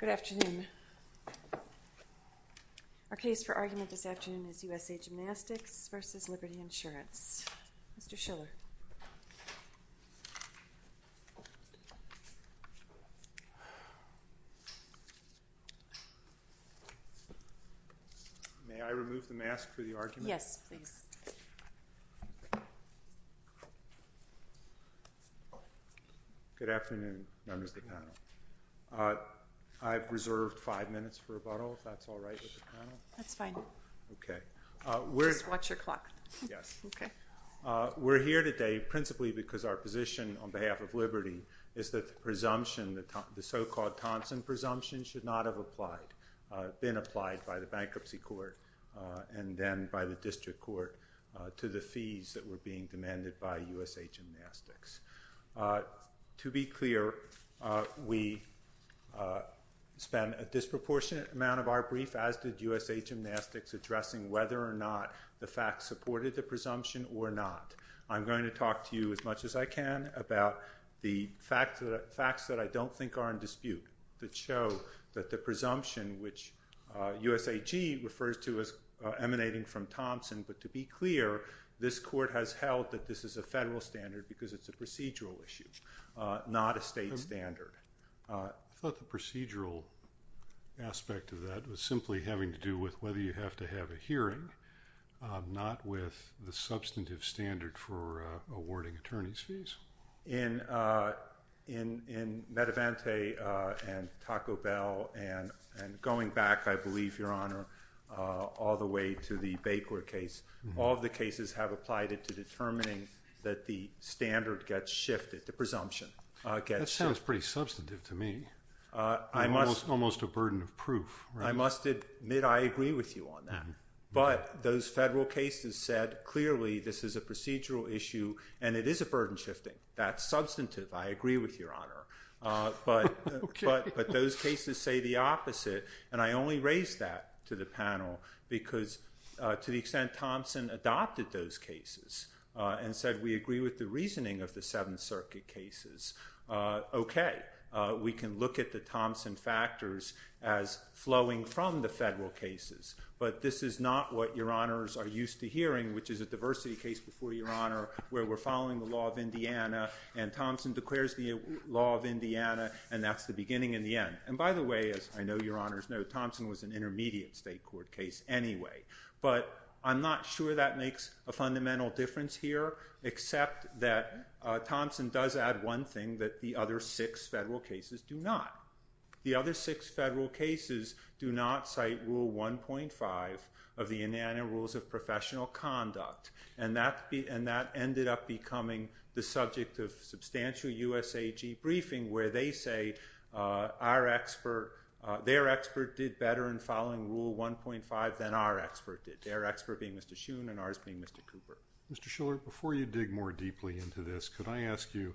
Good afternoon. Our case for argument this afternoon is USA Gymnastics v. Liberty Insurance. Mr. Schiller. May I remove the mask for the argument? Yes, please. Good afternoon, members of the panel. I've reserved five minutes for rebuttal, if that's all right with the panel? That's fine. Just watch your clock. Yes. We're here today principally because our position on behalf of Liberty is that the so-called Thompson presumption should not have been applied by the bankruptcy court and then by the district court to the fees that were being demanded by USA Gymnastics. To be clear, we spent a disproportionate amount of our brief, as did USA Gymnastics, addressing whether or not the facts supported the presumption or not. I'm going to talk to you as much as I can about the facts that I don't think are in dispute that show that the presumption, which USAG refers to as emanating from Thompson, but to be clear, this court has held that this is a federal standard because it's a procedural issue, not a state standard. I thought the procedural aspect of that was simply having to do with whether you have to have a hearing, not with the substantive standard for awarding attorney's fees. In Medivante and Taco Bell and going back, I believe, Your Honor, all the way to the Baker case, all of the cases have applied it to determining that the standard gets shifted, the presumption gets shifted. That sounds pretty substantive to me, almost a burden of proof. I must admit I agree with you on that, but those federal cases said clearly this is a procedural issue and it is a burden shifting. That's substantive, I agree with Your Honor, but those cases say the opposite, and I only raise that to the panel because to the extent Thompson adopted those cases and said we agree with the reasoning of the Seventh Circuit cases, okay, we can look at the Thompson factors as flowing from the federal cases, but this is not what Your Honors are used to hearing, which is a diversity case before Your Honor, where we're following the law of Indiana and Thompson declares the law of Indiana and that's the beginning and the end. And by the way, as I know Your Honors know, Thompson was an intermediate state court case anyway, but I'm not sure that makes a fundamental difference here except that Thompson does add one thing that the other six federal cases do not. The other six federal cases do not cite Rule 1.5 of the Indiana Rules of Professional Conduct, and that ended up becoming the subject of substantial USAG briefing where they say their expert did better in following Rule 1.5 than our expert did, their expert being Mr. Schoon and ours being Mr. Cooper. Mr. Shiller, before you dig more deeply into this, could I ask you,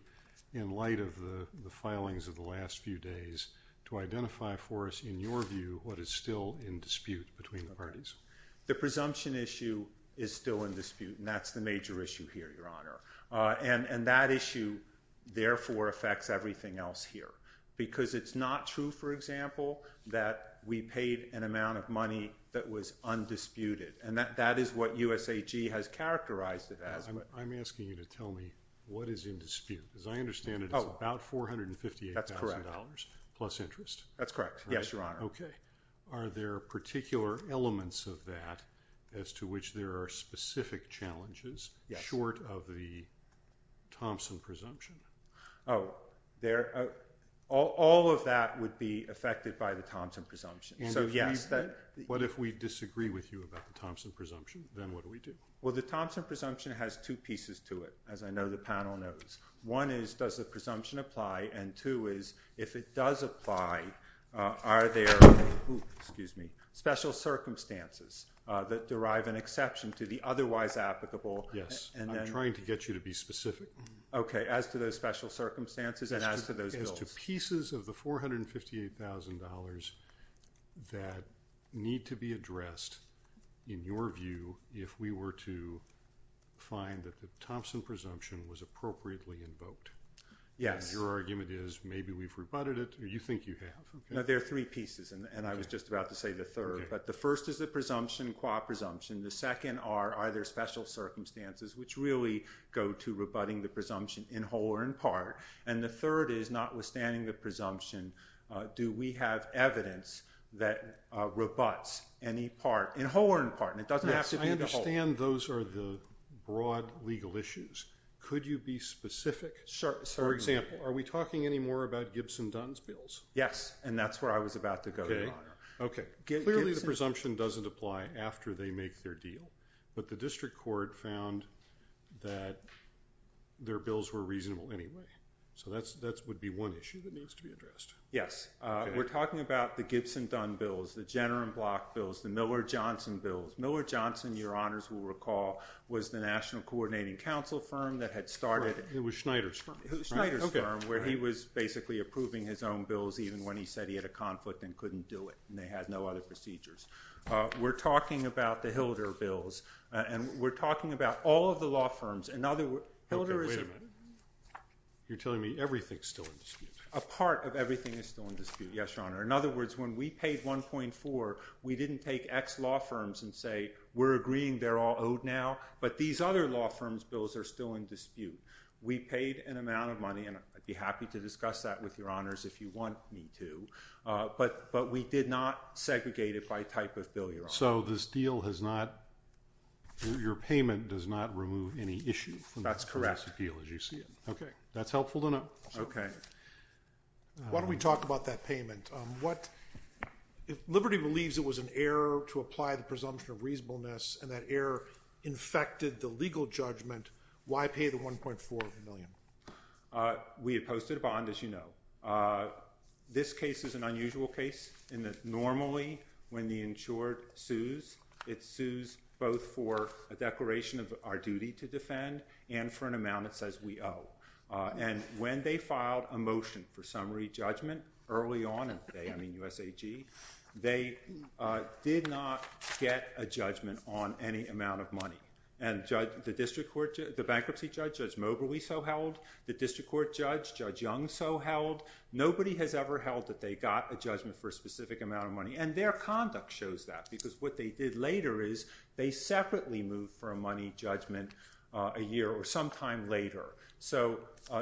in light of the filings of the last few days, to identify for us in your view what is still in dispute between the parties? The presumption issue is still in dispute, and that's the major issue here, Your Honor, and that issue therefore affects everything else here because it's not true, for example, that we paid an amount of money that was undisputed, and that is what USAG has characterized it as. I'm asking you to tell me what is in dispute. As I understand it, it's about $458,000 plus interest. That's correct. Yes, Your Honor. Okay. Are there particular elements of that as to which there are specific challenges short of the Thompson presumption? Oh, all of that would be affected by the Thompson presumption, so yes. What if we disagree with you about the Thompson presumption? Then what do we do? Well, the Thompson presumption has two pieces to it, as I know the panel knows. One is does the presumption apply, and two is if it does apply, are there special circumstances that derive an exception to the otherwise applicable? Yes. I'm trying to get you to be specific. Okay, as to those special circumstances and as to those bills. As to pieces of the $458,000 that need to be addressed, in your view, if we were to find that the Thompson presumption was appropriately invoked? Yes. And your argument is maybe we've rebutted it, or you think you have. No, there are three pieces, and I was just about to say the third. But the first is the presumption, qua presumption. The second are, are there special circumstances which really go to rebutting the presumption in whole or in part? And the third is, notwithstanding the presumption, do we have evidence that rebutts any part, in whole or in part? And it doesn't have to be the whole. Yes, I understand those are the broad legal issues. Could you be specific? For example, are we talking any more about Gibson-Dunn's bills? Yes, and that's where I was about to go, Your Honor. Clearly the presumption doesn't apply after they make their deal, but the district court found that their bills were reasonable anyway. So that would be one issue that needs to be addressed. Yes. We're talking about the Gibson-Dunn bills, the Jenner and Block bills, the Miller-Johnson bills. Miller-Johnson, Your Honors will recall, was the National Coordinating Council firm that had started. It was Schneider's firm. Schneider's firm, where he was basically approving his own bills even when he said he had a conflict and couldn't do it, and they had no other procedures. We're talking about the Hilder bills, and we're talking about all of the law firms. Okay, wait a minute. You're telling me everything's still in dispute. A part of everything is still in dispute, yes, Your Honor. In other words, when we paid 1.4, we didn't take X law firms and say, we're agreeing they're all owed now, but these other law firms' bills are still in dispute. We paid an amount of money, and I'd be happy to discuss that with Your Honors if you want me to, but we did not segregate it by type of bill, Your Honor. So this deal has not – your payment does not remove any issue from this deal as you see it? That's correct. Okay, that's helpful to know. Okay. Why don't we talk about that payment? Liberty believes it was an error to apply the presumption of reasonableness, and that error infected the legal judgment. Why pay the 1.4 million? We had posted a bond, as you know. This case is an unusual case in that normally when the insured sues, it sues both for a declaration of our duty to defend and for an amount it says we owe. And when they filed a motion for summary judgment early on in the day, I mean USAG, they did not get a judgment on any amount of money. And the bankruptcy judge, Judge Moberly, so held. The district court judge, Judge Young, so held. Nobody has ever held that they got a judgment for a specific amount of money, and their conduct shows that because what they did later is they separately moved for a money judgment a year or some time later. So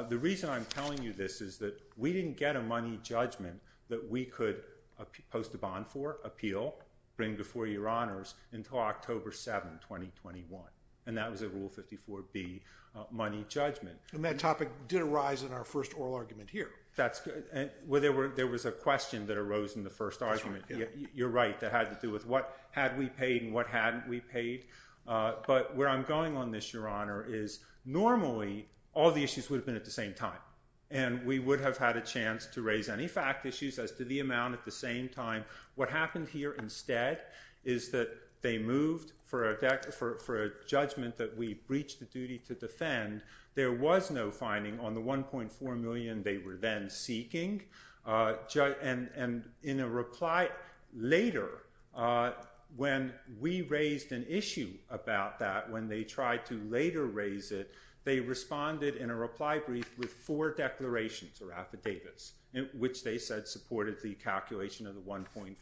the reason I'm telling you this is that we didn't get a money judgment that we could post a bond for, appeal, bring before your honors until October 7, 2021. And that was a Rule 54B money judgment. And that topic did arise in our first oral argument here. That's good. Well, there was a question that arose in the first argument. You're right. That had to do with what had we paid and what hadn't we paid. But where I'm going on this, your honor, is normally all the issues would have been at the same time. And we would have had a chance to raise any fact issues as to the amount at the same time. What happened here instead is that they moved for a judgment that we breached the duty to defend. There was no finding on the $1.4 million they were then seeking. And in a reply later, when we raised an issue about that, when they tried to later raise it, they responded in a reply brief with four declarations or affidavits, which they said supported the calculation of the $1.4 million.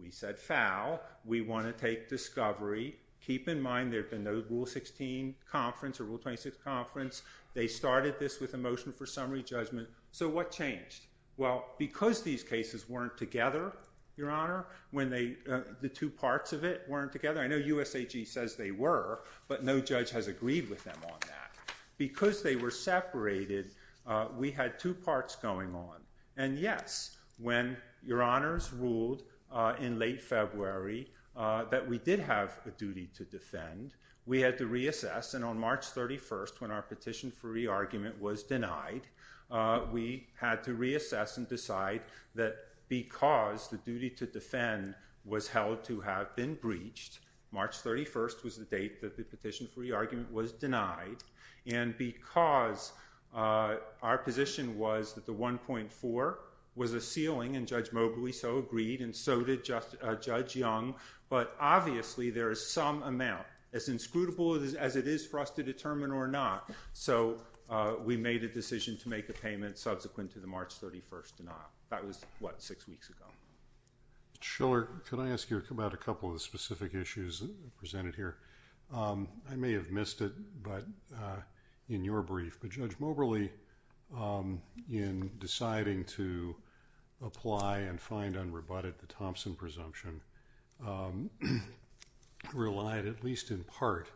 We said, foul. We want to take discovery. Keep in mind there had been no Rule 16 conference or Rule 26 conference. They started this with a motion for summary judgment. So what changed? Well, because these cases weren't together, your honor, when the two parts of it weren't together. I know USAG says they were, but no judge has agreed with them on that. Because they were separated, we had two parts going on. And, yes, when your honors ruled in late February that we did have a duty to defend, we had to reassess. And on March 31st, when our petition for re-argument was denied, we had to reassess and decide that because the duty to defend was held to have been breached, March 31st was the date that the petition for re-argument was denied, and because our position was that the $1.4 was a ceiling, and Judge Mobley so agreed, and so did Judge Young, but obviously there is some amount, as inscrutable as it is for us to determine or not. So we made a decision to make a payment subsequent to the March 31st denial. That was, what, six weeks ago. Shiller, can I ask you about a couple of the specific issues presented here? I may have missed it in your brief, but Judge Mobley, in deciding to apply and find unrebutted the Thompson presumption, relied at least in part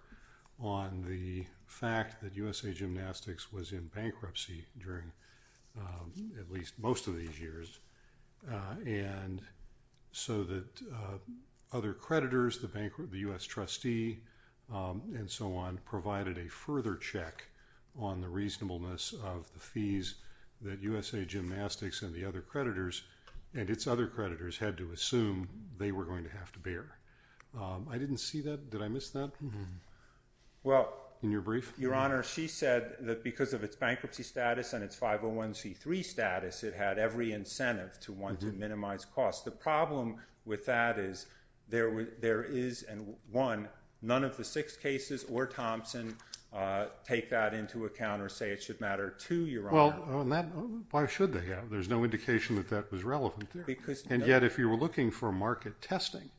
on the fact that USA Gymnastics was in bankruptcy during at least most of these years, and so that other creditors, the U.S. trustee, and so on, did not take on the reasonableness of the fees that USA Gymnastics and the other creditors, and its other creditors, had to assume they were going to have to bear. I didn't see that. Did I miss that in your brief? Your Honor, she said that because of its bankruptcy status and its 501c3 status, it had every incentive to want to minimize costs. The problem with that is there is, and one, none of the six cases or Thompson take that into account or say it should matter to your Honor. Well, why should they have? There's no indication that that was relevant there. And yet, if you were looking for market testing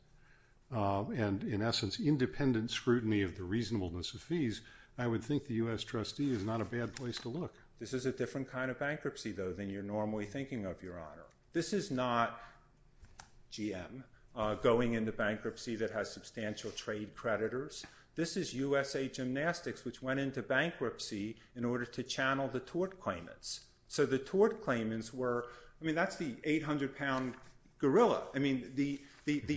and, in essence, independent scrutiny of the reasonableness of fees, I would think the U.S. trustee is not a bad place to look. This is a different kind of bankruptcy, though, than you're normally thinking of, Your Honor. This is not GM going into bankruptcy that has substantial trade creditors. This is USA Gymnastics, which went into bankruptcy in order to channel the tort claimants. So the tort claimants were, I mean, that's the 800-pound gorilla. I mean, the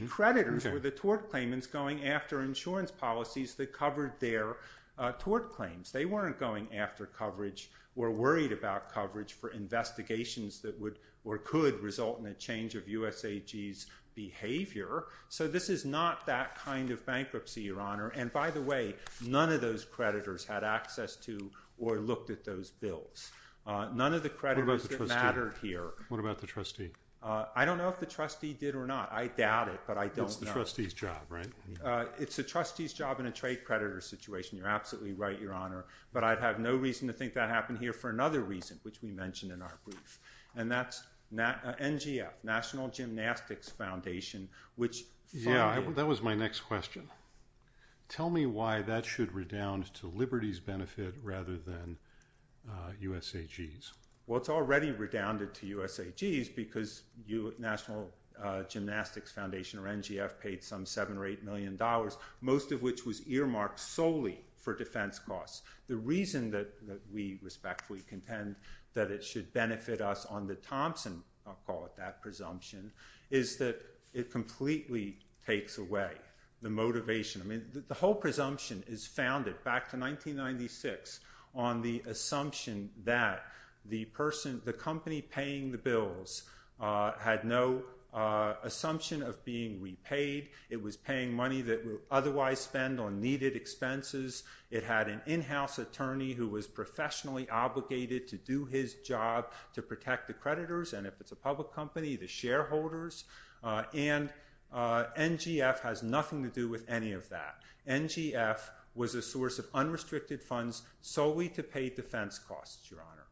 creditors were the tort claimants going after insurance policies that covered their tort claims. They weren't going after coverage or worried about coverage for investigations that would or could result in a change of USAG's behavior. So this is not that kind of bankruptcy, Your Honor. And by the way, none of those creditors had access to or looked at those bills. None of the creditors that mattered here. What about the trustee? I don't know if the trustee did or not. I doubt it, but I don't know. It's the trustee's job, right? It's a trustee's job in a trade creditor situation. You're absolutely right, Your Honor. But I'd have no reason to think that happened here for another reason, which we mentioned in our brief. And that's NGF, National Gymnastics Foundation. Yeah, that was my next question. Tell me why that should redound to Liberty's benefit rather than USAG's. Well, it's already redounded to USAG's because National Gymnastics Foundation or NGF paid some $7 million or $8 million, most of which was earmarked solely for defense costs. The reason that we respectfully contend that it should benefit us on the Thompson, I'll call it that, presumption, is that it completely takes away the motivation. I mean, the whole presumption is founded back to 1996 on the assumption that the person, the company paying the bills had no assumption of being repaid. It was paying money that would otherwise spend on needed expenses. It had an in-house attorney who was professionally obligated to do his job to protect the creditors, and if it's a public company, the shareholders. And NGF has nothing to do with any of that. NGF was a source of unrestricted funds solely to pay defense costs, Your Honor.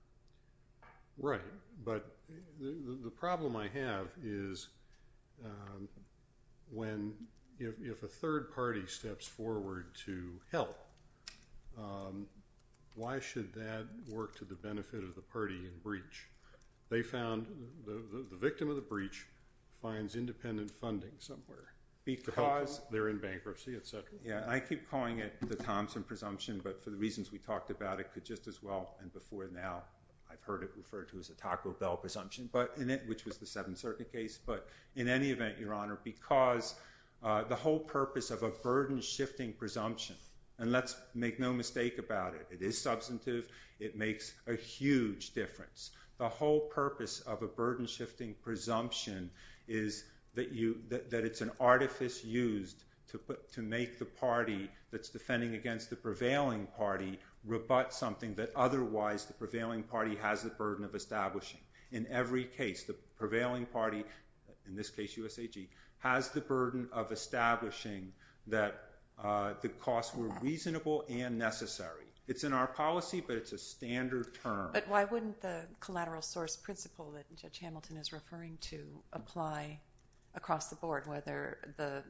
Right. But the problem I have is if a third party steps forward to help, why should that work to the benefit of the party in breach? They found the victim of the breach finds independent funding somewhere because they're in bankruptcy, et cetera. I keep calling it the Thompson presumption, but for the reasons we talked about, it could just as well, and before now I've heard it referred to as a Taco Bell presumption, which was the Seventh Circuit case. But in any event, Your Honor, because the whole purpose of a burden-shifting presumption, and let's make no mistake about it, it is substantive. It makes a huge difference. The whole purpose of a burden-shifting presumption is that it's an artifice used to make the party that's defending against the prevailing party rebut something that otherwise the prevailing party has the burden of establishing. In every case, the prevailing party, in this case USAG, has the burden of establishing that the costs were reasonable and necessary. It's in our policy, but it's a standard term. But why wouldn't the collateral source principle that Judge Hamilton is referring to apply across the board, whether the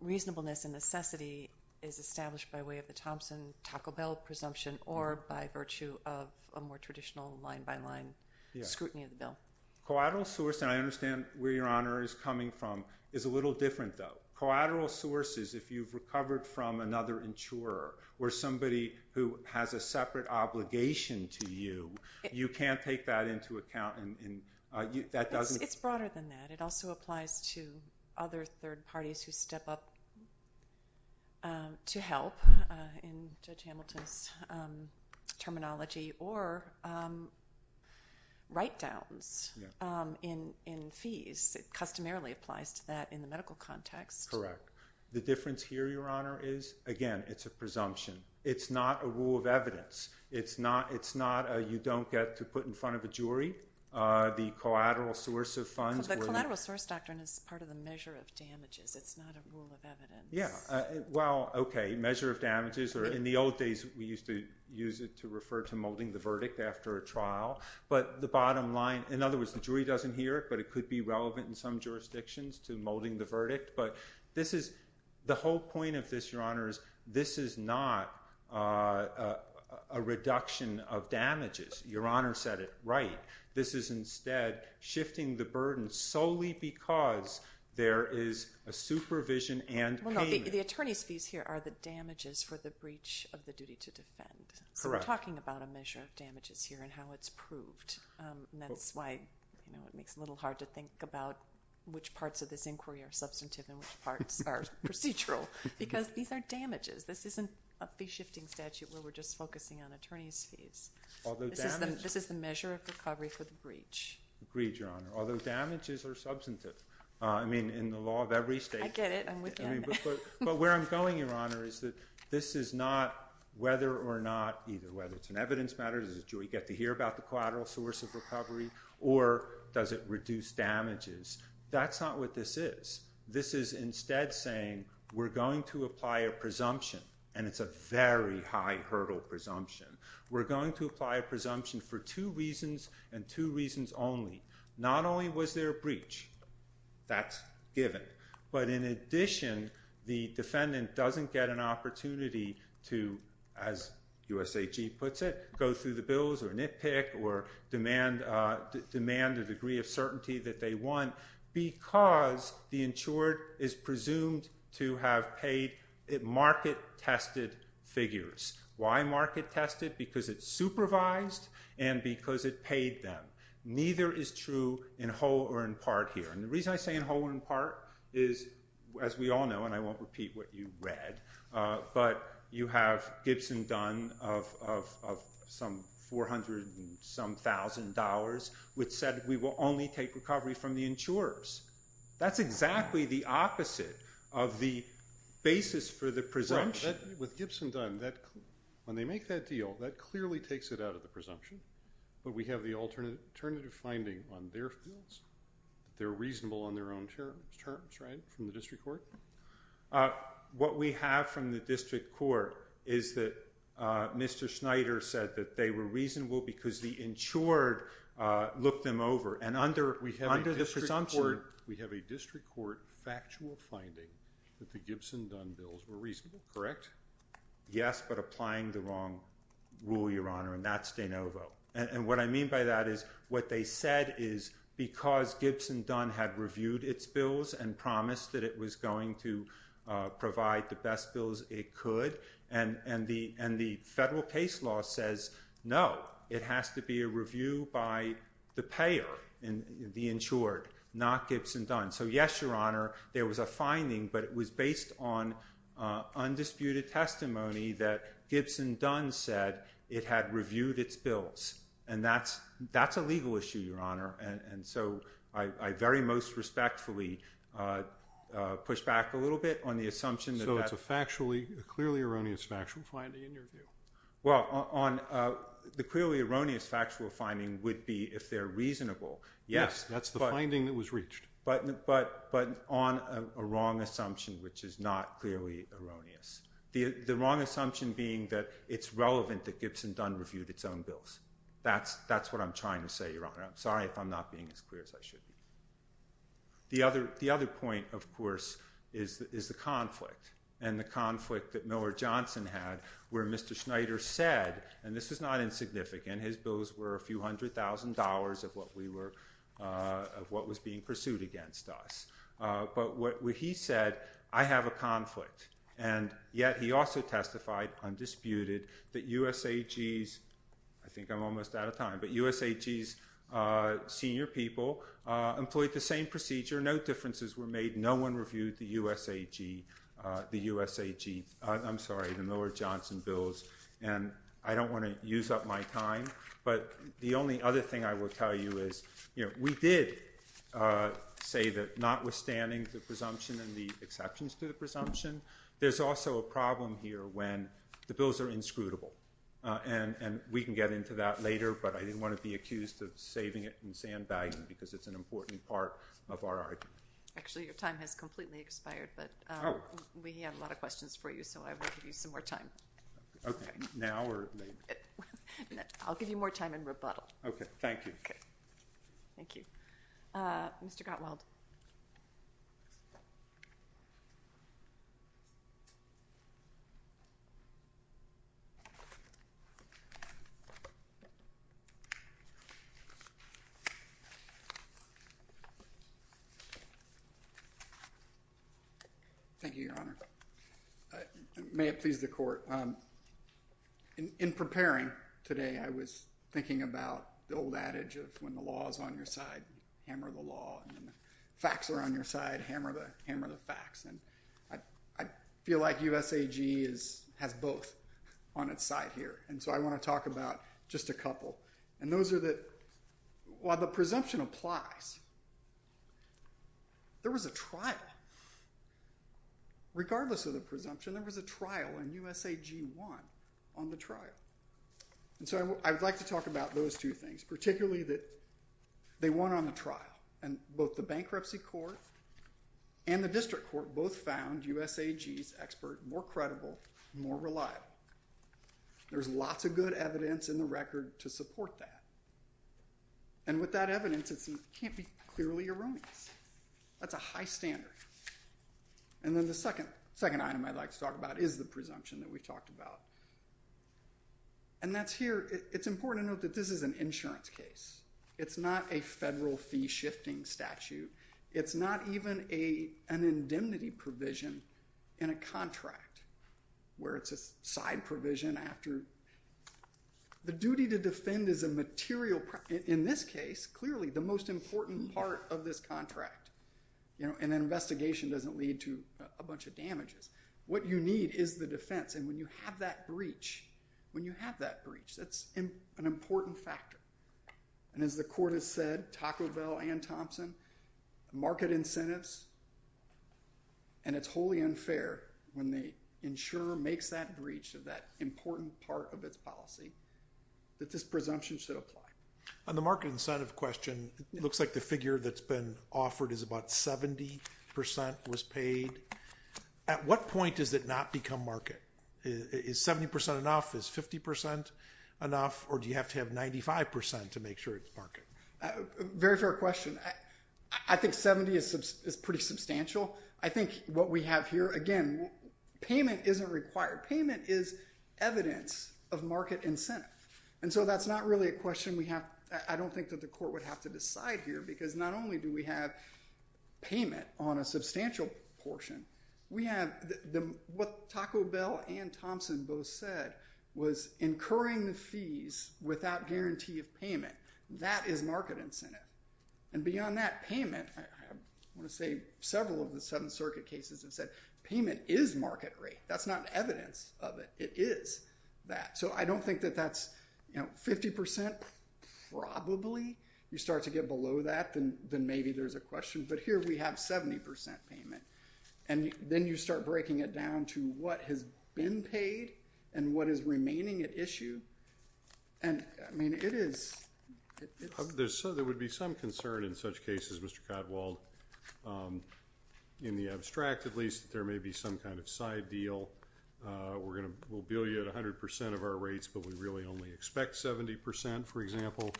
reasonableness and necessity is established by way of the Thompson-Taco Bell presumption or by virtue of a more traditional line-by-line scrutiny of the bill? Collateral source, and I understand where Your Honor is coming from, is a little different, though. Collateral source is if you've recovered from another insurer or somebody who has a separate obligation to you, you can't take that into account. It's broader than that. It also applies to other third parties who step up to help, in Judge Hamilton's terminology, or write-downs in fees. It customarily applies to that in the medical context. Correct. The difference here, Your Honor, is, again, it's a presumption. It's not a rule of evidence. It's not a you-don't-get-to-put-in-front-of-a-jury, the collateral source of funds. The collateral source doctrine is part of the measure of damages. It's not a rule of evidence. Yeah, well, okay, measure of damages. In the old days, we used to use it to refer to molding the verdict after a trial. In other words, the jury doesn't hear it, but it could be relevant in some jurisdictions to molding the verdict. But the whole point of this, Your Honor, is this is not a reduction of damages. Your Honor said it right. This is instead shifting the burden solely because there is a supervision and payment. Well, no, the attorney's fees here are the damages for the breach of the duty to defend. Correct. We're talking about a measure of damages here and how it's proved. And that's why it makes it a little hard to think about which parts of this inquiry are substantive and which parts are procedural. Because these are damages. This isn't a fee-shifting statute where we're just focusing on attorney's fees. This is the measure of recovery for the breach. Agreed, Your Honor, although damages are substantive. I mean, in the law of every state. I get it. I'm with you. But where I'm going, Your Honor, is that this is not whether or not either whether it's an evidence matter, does the jury get to hear about the collateral source of recovery, or does it reduce damages. That's not what this is. This is instead saying we're going to apply a presumption, and it's a very high hurdle presumption. We're going to apply a presumption for two reasons and two reasons only. Not only was there a breach. That's given. But in addition, the defendant doesn't get an opportunity to, as USAG puts it, go through the bills or nitpick or demand a degree of certainty that they want because the insured is presumed to have paid market-tested figures. Why market-tested? Because it's supervised and because it paid them. Neither is true in whole or in part here. And the reason I say in whole or in part is, as we all know, and I won't repeat what you read, but you have Gibson-Dunn of some $400 and some thousand, which said we will only take recovery from the insurers. That's exactly the opposite of the basis for the presumption. With Gibson-Dunn, when they make that deal, that clearly takes it out of the presumption. But we have the alternative finding on their fields. They're reasonable on their own terms, right, from the district court. What we have from the district court is that Mr. Schneider said that they were reasonable because the insured looked them over. We have a district court factual finding that the Gibson-Dunn bills were reasonable, correct? Yes, but applying the wrong rule, Your Honor, and that's de novo. And what I mean by that is what they said is because Gibson-Dunn had reviewed its bills and promised that it was going to provide the best bills it could, and the federal case law says, no, it has to be a review by the payer, the insured, not Gibson-Dunn. So yes, Your Honor, there was a finding, but it was based on undisputed testimony that Gibson-Dunn said it had reviewed its bills. And that's a legal issue, Your Honor. And so I very most respectfully push back a little bit on the assumption that that's… So it's a clearly erroneous factual finding in your view? Well, the clearly erroneous factual finding would be if they're reasonable. Yes, that's the finding that was reached. But on a wrong assumption, which is not clearly erroneous. The wrong assumption being that it's relevant that Gibson-Dunn reviewed its own bills. That's what I'm trying to say, Your Honor. I'm sorry if I'm not being as clear as I should be. The other point, of course, is the conflict. And the conflict that Miller Johnson had where Mr. Schneider said, and this is not insignificant, his bills were a few hundred thousand dollars of what was being pursued against us. But what he said, I have a conflict. And yet he also testified undisputed that USAG's, I think I'm almost out of time, but USAG's senior people employed the same procedure. No differences were made. No one reviewed the USAG, I'm sorry, the Miller Johnson bills. And I don't want to use up my time. But the only other thing I will tell you is we did say that notwithstanding the presumption and the exceptions to the presumption, there's also a problem here when the bills are inscrutable. And we can get into that later, but I didn't want to be accused of saving it and sandbagging it because it's an important part of our argument. Actually, your time has completely expired, but we have a lot of questions for you, so I will give you some more time. Okay, now or later? I'll give you more time in rebuttal. Okay, thank you. Okay. Thank you. Mr. Gottwald. May it please the court. In preparing today, I was thinking about the old adage of when the law is on your side, hammer the law, and when the facts are on your side, hammer the facts. And I feel like USAG has both on its side here, and so I want to talk about just a couple. And those are the – while the presumption applies, there was a trial. Regardless of the presumption, there was a trial, and USAG won on the trial. And so I would like to talk about those two things, particularly that they won on the trial. And both the bankruptcy court and the district court both found USAG's expert more credible, more reliable. There's lots of good evidence in the record to support that. And with that evidence, it can't be clearly erroneous. That's a high standard. And then the second item I'd like to talk about is the presumption that we talked about. And that's here – it's important to note that this is an insurance case. It's not a federal fee-shifting statute. It's not even an indemnity provision in a contract where it's a side provision after – the duty to defend is a material – And an investigation doesn't lead to a bunch of damages. What you need is the defense. And when you have that breach, when you have that breach, that's an important factor. And as the court has said, Taco Bell, Ann Thompson, market incentives – and it's wholly unfair when the insurer makes that breach of that important part of its policy that this presumption should apply. On the market incentive question, it looks like the figure that's been offered is about 70% was paid. At what point does it not become market? Is 70% enough? Is 50% enough? Or do you have to have 95% to make sure it's market? Very fair question. I think 70% is pretty substantial. I think what we have here – again, payment isn't required. Payment is evidence of market incentive. And so that's not really a question we have – I don't think that the court would have to decide here because not only do we have payment on a substantial portion, we have – what Taco Bell and Thompson both said was incurring the fees without guarantee of payment. That is market incentive. And beyond that, payment – I want to say several of the Seventh Circuit cases have said payment is market rate. That's not evidence of it. It is that. So I don't think that that's – 50%? Probably. You start to get below that, then maybe there's a question. But here we have 70% payment. And then you start breaking it down to what has been paid and what is remaining at issue. And, I mean, it is – There would be some concern in such cases, Mr. Codewald. In the abstract, at least, there may be some kind of side deal. We'll bill you at 100% of our rates, but we really only expect 70%, for example,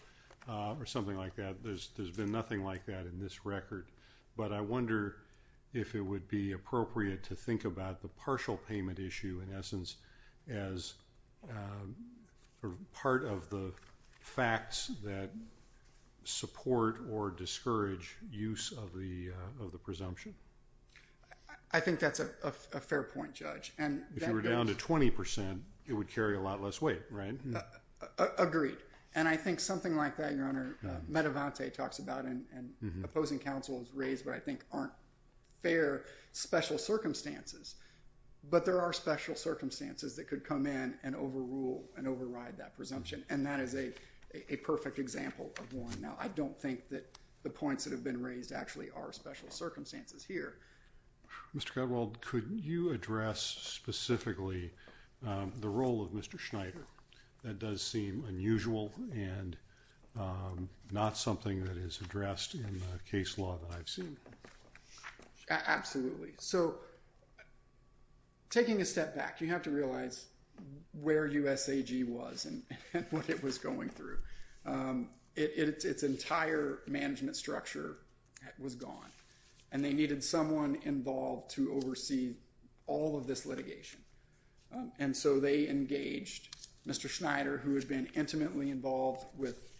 or something like that. There's been nothing like that in this record. But I wonder if it would be appropriate to think about the partial payment issue, in essence, as part of the facts that support or discourage use of the presumption. I think that's a fair point, Judge. If you were down to 20%, it would carry a lot less weight, right? Agreed. And I think something like that, Your Honor, Medevante talks about, and opposing counsel has raised what I think aren't fair special circumstances. But there are special circumstances that could come in and overrule and override that presumption. And that is a perfect example of one. Now, I don't think that the points that have been raised actually are special circumstances here. Mr. Codewald, could you address specifically the role of Mr. Schneider? That does seem unusual and not something that is addressed in the case law that I've seen. Absolutely. So, taking a step back, you have to realize where USAG was and what it was going through. Its entire management structure was gone. And they needed someone involved to oversee all of this litigation. And so they engaged Mr. Schneider, who had been intimately involved with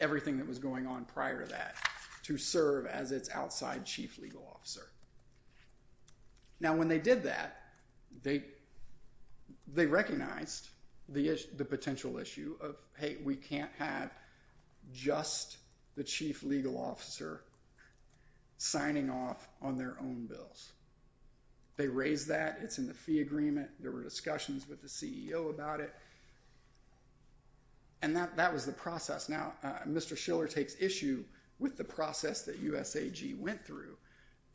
everything that was going on prior to that, to serve as its outside chief legal officer. Now, when they did that, they recognized the potential issue of, hey, we can't have just the chief legal officer signing off on their own bills. They raised that. It's in the fee agreement. There were discussions with the CEO about it. And that was the process. Now, Mr. Schiller takes issue with the process that USAG went through.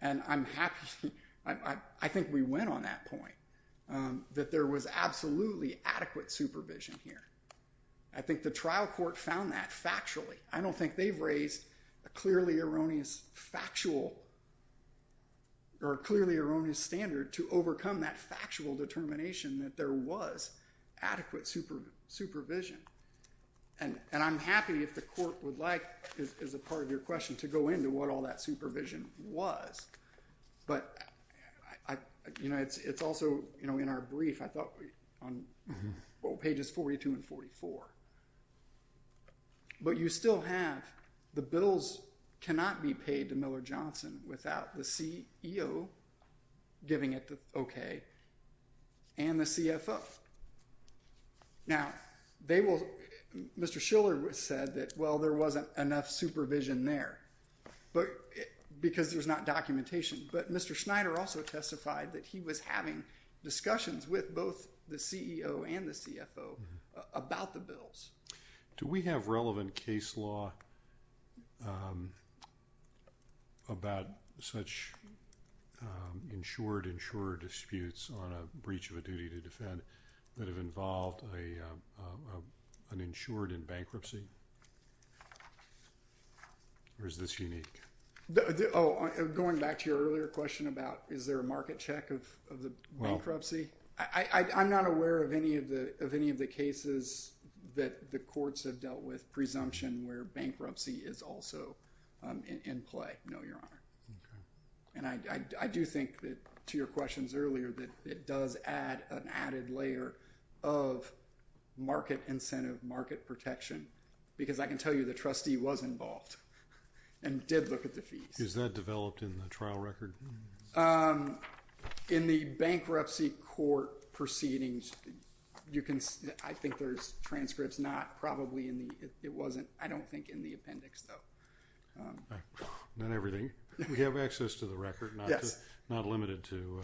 And I think we went on that point, that there was absolutely adequate supervision here. I think the trial court found that factually. I don't think they've raised a clearly erroneous standard to overcome that factual determination that there was adequate supervision. And I'm happy if the court would like, as a part of your question, to go into what all that supervision was. But it's also in our brief, I thought, on pages 42 and 44. But you still have the bills cannot be paid to Miller Johnson without the CEO giving it the okay and the CFO. Now, Mr. Schiller said that, well, there wasn't enough supervision there because there's not documentation. But Mr. Schneider also testified that he was having discussions with both the CEO and the CFO about the bills. Do we have relevant case law about such insured-insurer disputes on a breach of a duty to defend that have involved an insured in bankruptcy? Or is this unique? Oh, going back to your earlier question about is there a market check of the bankruptcy? I'm not aware of any of the cases that the courts have dealt with presumption where bankruptcy is also in play, no, Your Honor. And I do think that, to your questions earlier, that it does add an added layer of market incentive, market protection. Because I can tell you the trustee was involved and did look at the fees. Is that developed in the trial record? In the bankruptcy court proceedings, I think there's transcripts. I don't think in the appendix, though. Not everything. We have access to the record, not limited to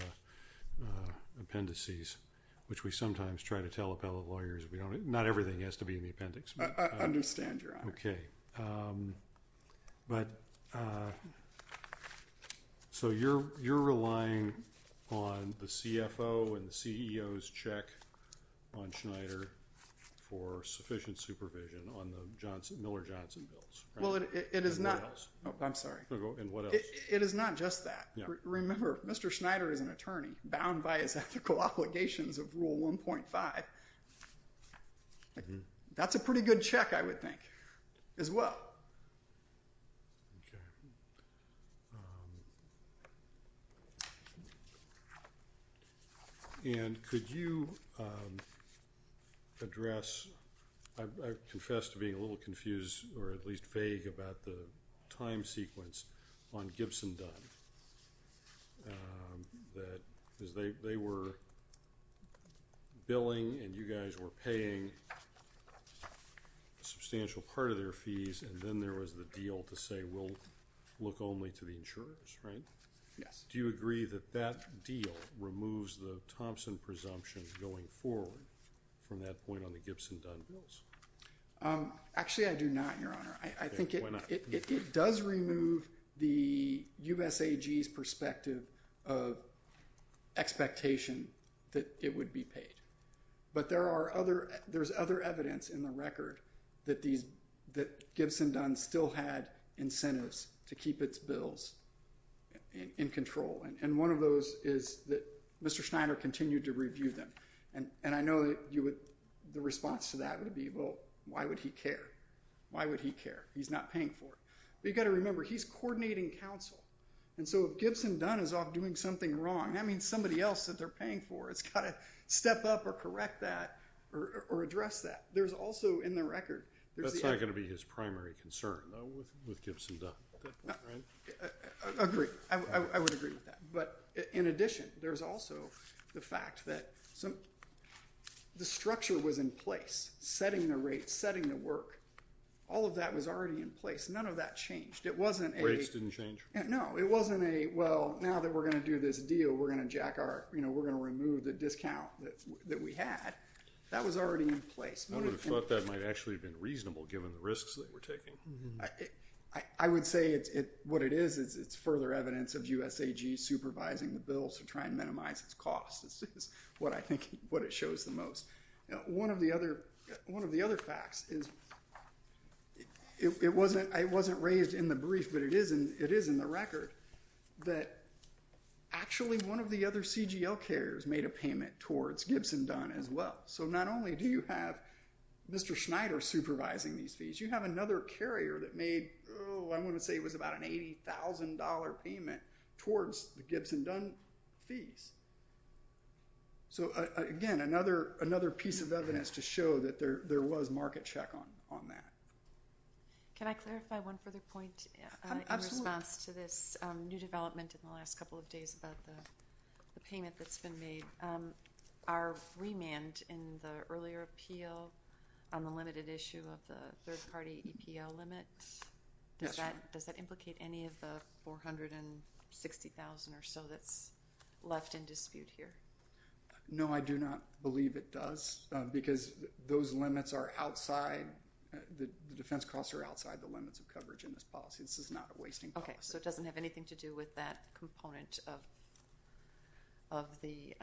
appendices, which we sometimes try to tell appellate lawyers. Not everything has to be in the appendix. I understand, Your Honor. Okay. So you're relying on the CFO and the CEO's check on Schneider for sufficient supervision on the Miller-Johnson bills? Well, it is not. I'm sorry. And what else? It is not just that. Remember, Mr. Schneider is an attorney bound by his ethical obligations of Rule 1.5. That's a pretty good check, I would think, as well. And could you address, I confess to being a little confused or at least vague about the time sequence on Gibson-Dunn. They were billing, and you guys were paying a substantial part of their fees, and then there was the deal to say we'll look only to the insurers, right? Yes. Do you agree that that deal removes the Thompson presumption going forward from that point on the Gibson-Dunn bills? Actually, I do not, Your Honor. Why not? It does remove the USAG's perspective of expectation that it would be paid. But there's other evidence in the record that Gibson-Dunn still had incentives to keep its bills in control, and one of those is that Mr. Schneider continued to review them. And I know the response to that would be, well, why would he care? Why would he care? He's not paying for it. But you've got to remember, he's coordinating counsel, and so if Gibson-Dunn is off doing something wrong, that means somebody else that they're paying for has got to step up or correct that or address that. There's also, in the record, there's the evidence. That's not going to be his primary concern, though, with Gibson-Dunn, right? Agreed. I would agree with that. But in addition, there's also the fact that the structure was in place, setting the rates, setting the work. All of that was already in place. None of that changed. Rates didn't change? No. It wasn't a, well, now that we're going to do this deal, we're going to remove the discount that we had. That was already in place. I would have thought that might actually have been reasonable, given the risks that we're taking. I would say what it is, it's further evidence of USAG supervising the bill to try and minimize its costs. This is what I think, what it shows the most. One of the other facts is, it wasn't raised in the brief, but it is in the record, that actually one of the other CGL carriers made a payment towards Gibson-Dunn as well. So not only do you have Mr. Schneider supervising these fees, you have another carrier that made, oh, I want to say it was about an $80,000 payment towards the Gibson-Dunn fees. So, again, another piece of evidence to show that there was market check on that. Can I clarify one further point in response to this new development in the last couple of days about the payment that's been made? Our remand in the earlier appeal on the limited issue of the third-party EPO limit, does that implicate any of the $460,000 or so that's left in dispute here? No, I do not believe it does, because those limits are outside, the defense costs are outside the limits of coverage in this policy. This is not a wasting policy. Okay, so it doesn't have anything to do with that component of the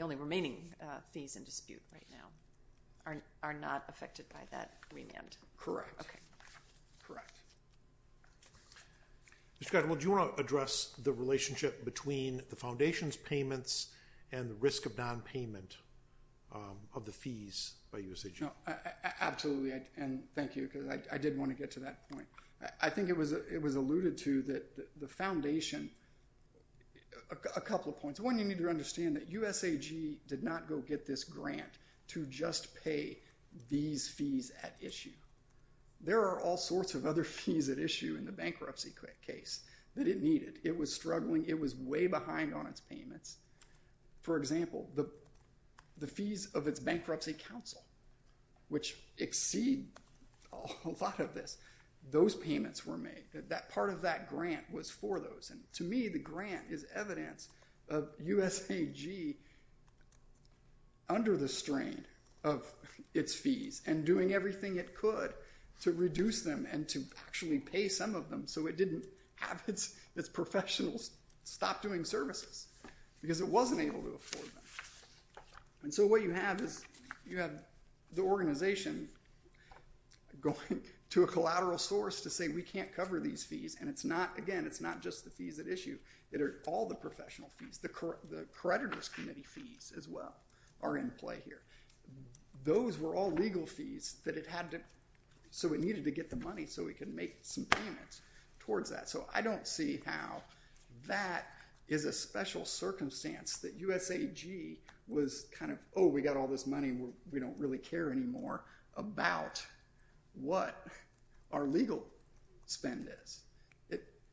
only remaining fees in dispute right now are not affected by that remand? Correct. Okay. Correct. Mr. Cadwell, do you want to address the relationship between the foundation's payments and the risk of nonpayment of the fees by USAG? No, absolutely, and thank you, because I did want to get to that point. I think it was alluded to that the foundation – a couple of points. One, you need to understand that USAG did not go get this grant to just pay these fees at issue. There are all sorts of other fees at issue in the bankruptcy case that it needed. It was struggling. It was way behind on its payments. For example, the fees of its bankruptcy counsel, which exceed a lot of this, those payments were made. Part of that grant was for those, and to me the grant is evidence of USAG under the strain of its fees and doing everything it could to reduce them and to actually pay some of them so it didn't have its professionals stop doing services. Because it wasn't able to afford them. And so what you have is you have the organization going to a collateral source to say we can't cover these fees, and it's not – again, it's not just the fees at issue. It are all the professional fees. The creditors' committee fees as well are in play here. Those were all legal fees that it had to – so it needed to get the money so it could make some payments towards that. So I don't see how that is a special circumstance that USAG was kind of, oh, we got all this money. We don't really care anymore about what our legal spend is.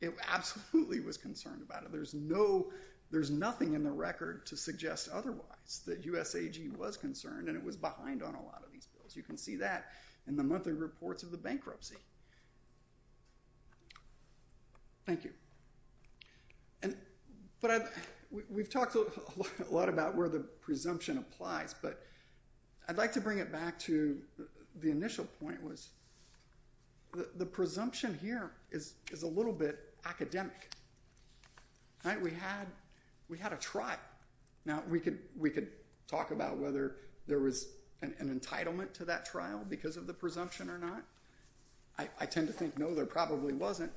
It absolutely was concerned about it. There's nothing in the record to suggest otherwise that USAG was concerned, and it was behind on a lot of these bills. You can see that in the monthly reports of the bankruptcy. Thank you. But we've talked a lot about where the presumption applies, but I'd like to bring it back to the initial point was the presumption here is a little bit academic. We had a trial. Now, we could talk about whether there was an entitlement to that trial because of the presumption or not. I tend to think no, there probably wasn't,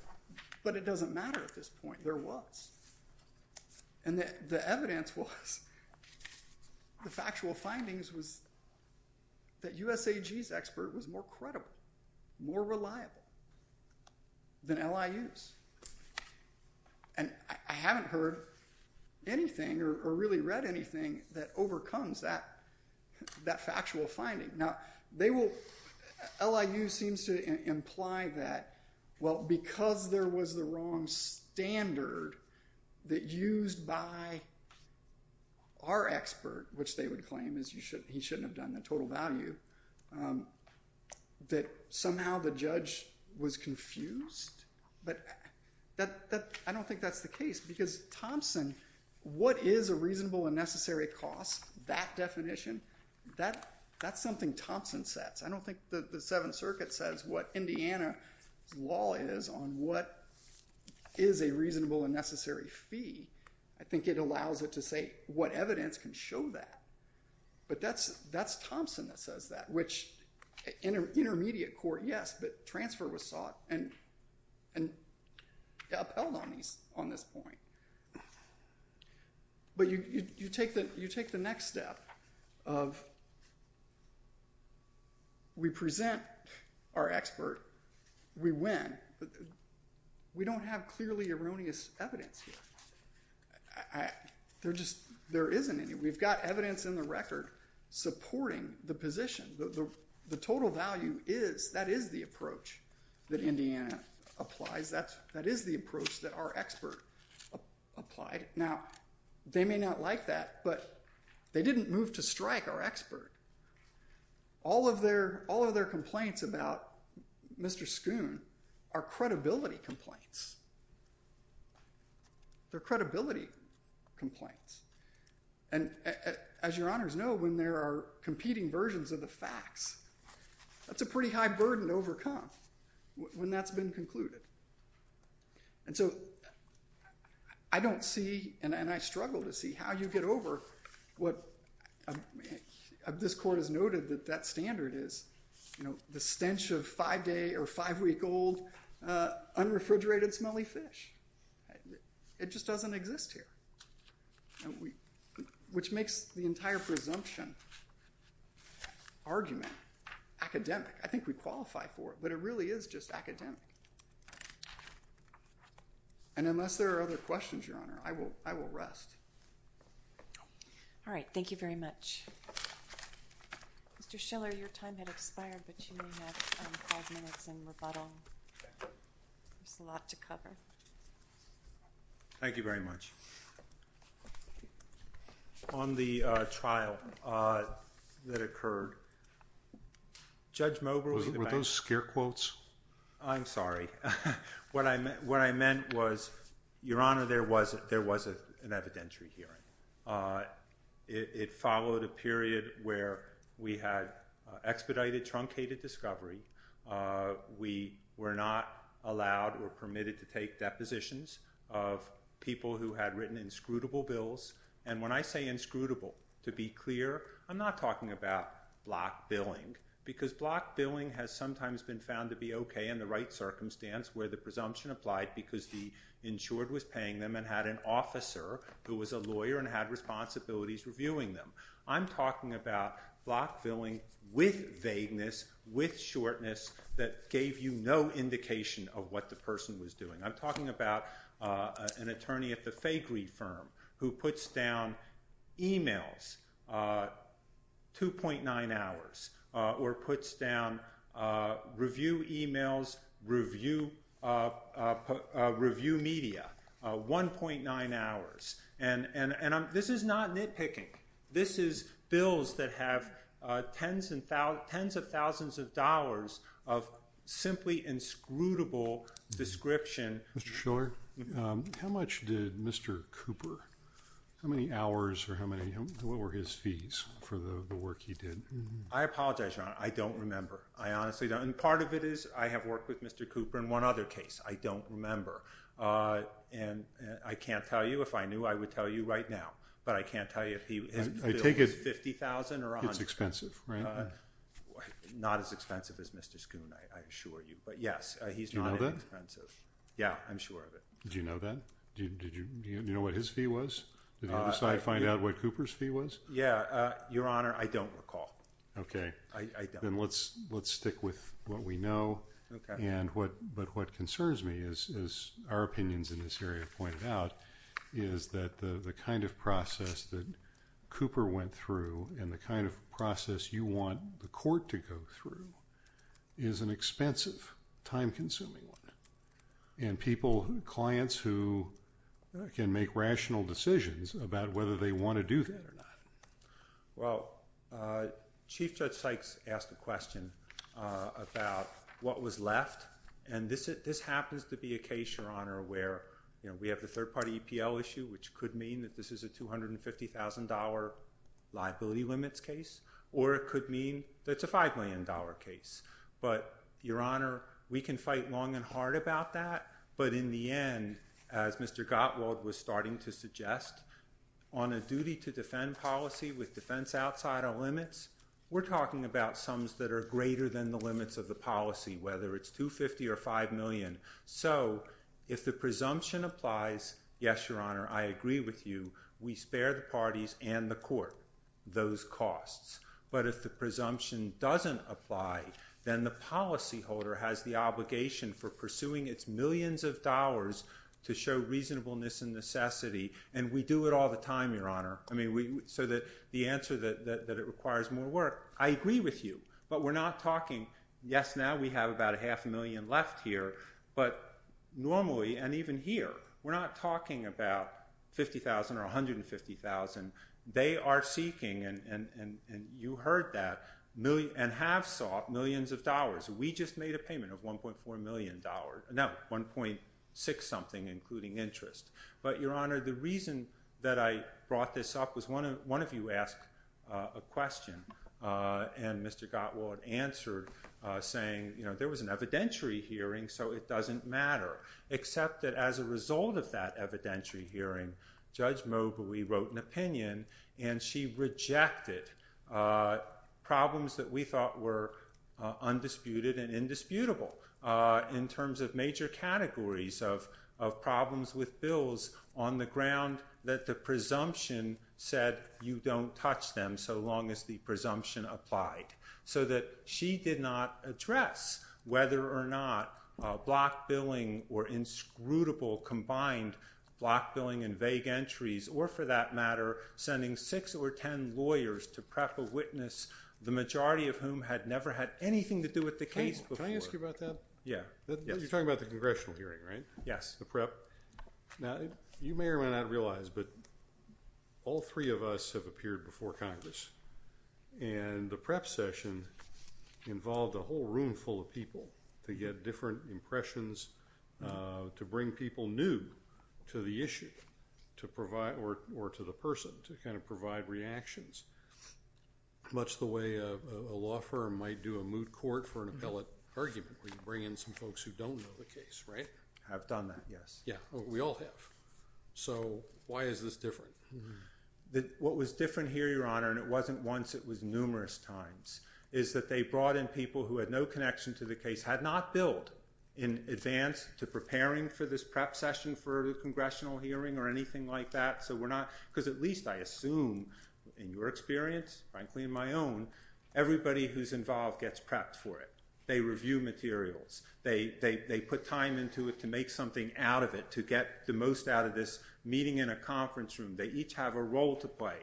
but it doesn't matter at this point. There was. And the evidence was the factual findings was that USAG's expert was more credible, more reliable than LIU's. And I haven't heard anything or really read anything that overcomes that factual finding. Now, LIU seems to imply that, well, because there was the wrong standard that used by our expert, which they would claim is he shouldn't have done the total value, that somehow the judge was confused. But I don't think that's the case because, Thompson, what is a reasonable and necessary cost? That definition, that's something Thompson sets. I don't think the Seventh Circuit says what Indiana's law is on what is a reasonable and necessary fee. I think it allows it to say what evidence can show that. But that's Thompson that says that, which intermediate court, yes, but transfer was sought and upheld on this point. But you take the next step of we present our expert, we win. We don't have clearly erroneous evidence here. There just isn't any. We've got evidence in the record supporting the position. The total value is, that is the approach that Indiana applies. That is the approach that our expert applied. Now, they may not like that, but they didn't move to strike our expert. All of their complaints about Mr. Schoon are credibility complaints. They're credibility complaints. And as your honors know, when there are competing versions of the facts, that's a pretty high burden to overcome when that's been concluded. And so I don't see, and I struggle to see, how you get over what this court has noted that that standard is, the stench of five-day or five-week-old unrefrigerated smelly fish. It just doesn't exist here. Which makes the entire presumption argument academic. I think we qualify for it, but it really is just academic. And unless there are other questions, your honor, I will rest. All right, thank you very much. Mr. Schiller, your time had expired, but you may have five minutes in rebuttal. There's a lot to cover. Thank you very much. On the trial that occurred, Judge Mober was the best. Were those scare quotes? I'm sorry. What I meant was, your honor, there was an evidentiary hearing. It followed a period where we had expedited, truncated discovery. We were not allowed or permitted to take depositions of people who had written inscrutable bills. And when I say inscrutable, to be clear, I'm not talking about block billing, because block billing has sometimes been found to be okay in the right circumstance where the presumption applied because the insured was paying them and had an officer who was a lawyer and had responsibilities reviewing them. I'm talking about block billing with vagueness, with shortness, that gave you no indication of what the person was doing. I'm talking about an attorney at the Faygre firm who puts down e-mails, 2.9 hours, or puts down review e-mails, review media, 1.9 hours. This is not nitpicking. This is bills that have tens of thousands of dollars of simply inscrutable description. Mr. Shiller, how much did Mr. Cooper, how many hours or what were his fees for the work he did? I apologize, your honor. I don't remember. Part of it is I have worked with Mr. Cooper in one other case. I don't remember. I can't tell you. If I knew, I would tell you right now, but I can't tell you if his bill was $50,000 or $100,000. It's expensive, right? Not as expensive as Mr. Schoon, I assure you, but yes, he's not inexpensive. Do you know that? Yeah, I'm sure of it. Do you know that? Do you know what his fee was? Did you decide to find out what Cooper's fee was? Yeah, your honor, I don't recall. Okay. I don't. Then let's stick with what we know. Okay. But what concerns me, as our opinions in this area pointed out, is that the kind of process that Cooper went through and the kind of process you want the court to go through is an expensive, time-consuming one. And people, clients who can make rational decisions about whether they want to do that or not. Well, Chief Judge Sykes asked a question about what was left. And this happens to be a case, your honor, where we have the third-party EPL issue, which could mean that this is a $250,000 liability limits case. Or it could mean that it's a $5 million case. But, your honor, we can fight long and hard about that. But, in the end, as Mr. Gottwald was starting to suggest, on a duty to defend policy with defense outside our limits, we're talking about sums that are greater than the limits of the policy, whether it's $250,000 or $5 million. So, if the presumption applies, yes, your honor, I agree with you. We spare the parties and the court those costs. But if the presumption doesn't apply, then the policyholder has the obligation for pursuing its millions of dollars to show reasonableness and necessity. And we do it all the time, your honor. I mean, so that the answer that it requires more work, I agree with you. But we're not talking, yes, now we have about a half a million left here. But normally, and even here, we're not talking about $50,000 or $150,000. They are seeking, and you heard that, and have sought millions of dollars. We just made a payment of $1.4 million. No, $1.6 something, including interest. But, your honor, the reason that I brought this up was one of you asked a question. And Mr. Gottwald answered saying, you know, there was an evidentiary hearing, so it doesn't matter. Except that as a result of that evidentiary hearing, Judge Mobley wrote an opinion, and she rejected problems that we thought were undisputed and indisputable. In terms of major categories of problems with bills on the ground that the presumption said you don't touch them so long as the presumption applied. So that she did not address whether or not block billing or inscrutable combined block billing and vague entries, or for that matter, sending six or ten lawyers to prep a witness, the majority of whom had never had anything to do with the case before. Can I ask you about that? Yeah. You're talking about the congressional hearing, right? Yes. The prep. Now, you may or may not realize, but all three of us have appeared before Congress. And the prep session involved a whole room full of people to get different impressions, to bring people new to the issue, or to the person, to kind of provide reactions. Much the way a law firm might do a moot court for an appellate argument, where you bring in some folks who don't know the case, right? I've done that, yes. Yeah. We all have. So why is this different? What was different here, Your Honor, and it wasn't once, it was numerous times, is that they brought in people who had no connection to the case, had not billed in advance to preparing for this prep session for the congressional hearing or anything like that. Because at least, I assume, in your experience, frankly, in my own, everybody who's involved gets prepped for it. They review materials. They put time into it to make something out of it, to get the most out of this meeting in a conference room. They each have a role to play.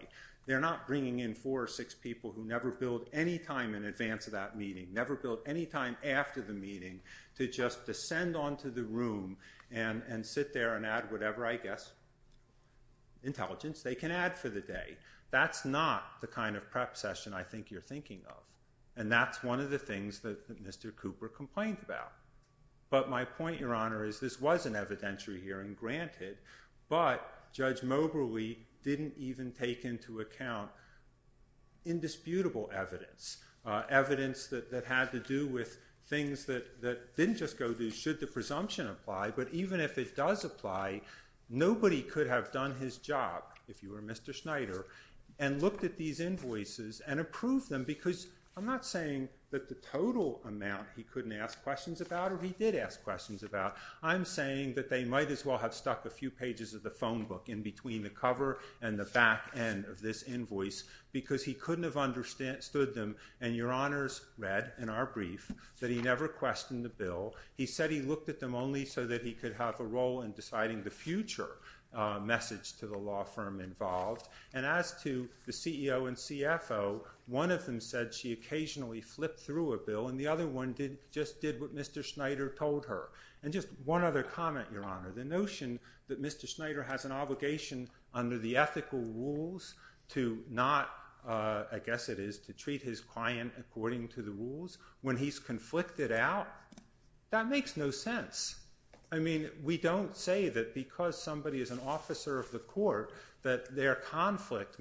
They're not bringing in four or six people who never billed any time in advance of that meeting, never billed any time after the meeting, to just descend onto the room and sit there and add whatever, I guess, intelligence they can add for the day. That's not the kind of prep session I think you're thinking of. And that's one of the things that Mr. Cooper complained about. But my point, Your Honor, is this was an evidentiary hearing, granted. But Judge Moberly didn't even take into account indisputable evidence, evidence that had to do with things that didn't just go to should the presumption apply. But even if it does apply, nobody could have done his job, if you were Mr. Schneider, and looked at these invoices and approved them. Because I'm not saying that the total amount he couldn't ask questions about or he did ask questions about. I'm saying that they might as well have stuck a few pages of the phone book in between the cover and the back end of this invoice because he couldn't have understood them. And Your Honors read in our brief that he never questioned the bill. He said he looked at them only so that he could have a role in deciding the future message to the law firm involved. And as to the CEO and CFO, one of them said she occasionally flipped through a bill and the other one just did what Mr. Schneider told her. And just one other comment, Your Honor. The notion that Mr. Schneider has an obligation under the ethical rules to not, I guess it is, to treat his client according to the rules when he's conflicted out, that makes no sense. I mean, we don't say that because somebody is an officer of the court that their conflict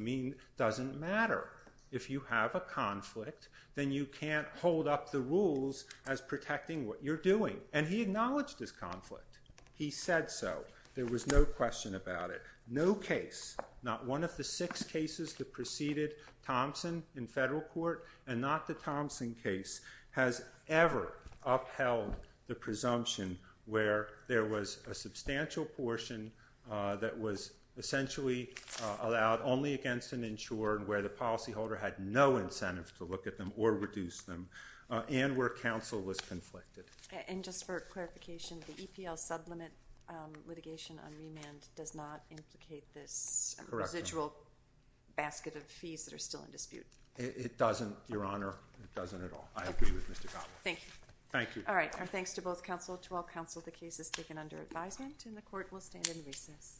doesn't matter. If you have a conflict, then you can't hold up the rules as protecting what you're doing. And he acknowledged this conflict. He said so. There was no question about it. No case, not one of the six cases that preceded Thompson in federal court and not the Thompson case, has ever upheld the presumption where there was a substantial portion that was essentially allowed only against an insurer where the policyholder had no incentive to look at them or reduce them and where counsel was conflicted. And just for clarification, the EPL sublimate litigation on remand does not implicate this residual basket of fees that are still in dispute. It doesn't, Your Honor. It doesn't at all. I agree with Mr. Gottlieb. Thank you. All right. Our thanks to both counsel, to all counsel. The case is taken under advisement and the court will stand in recess.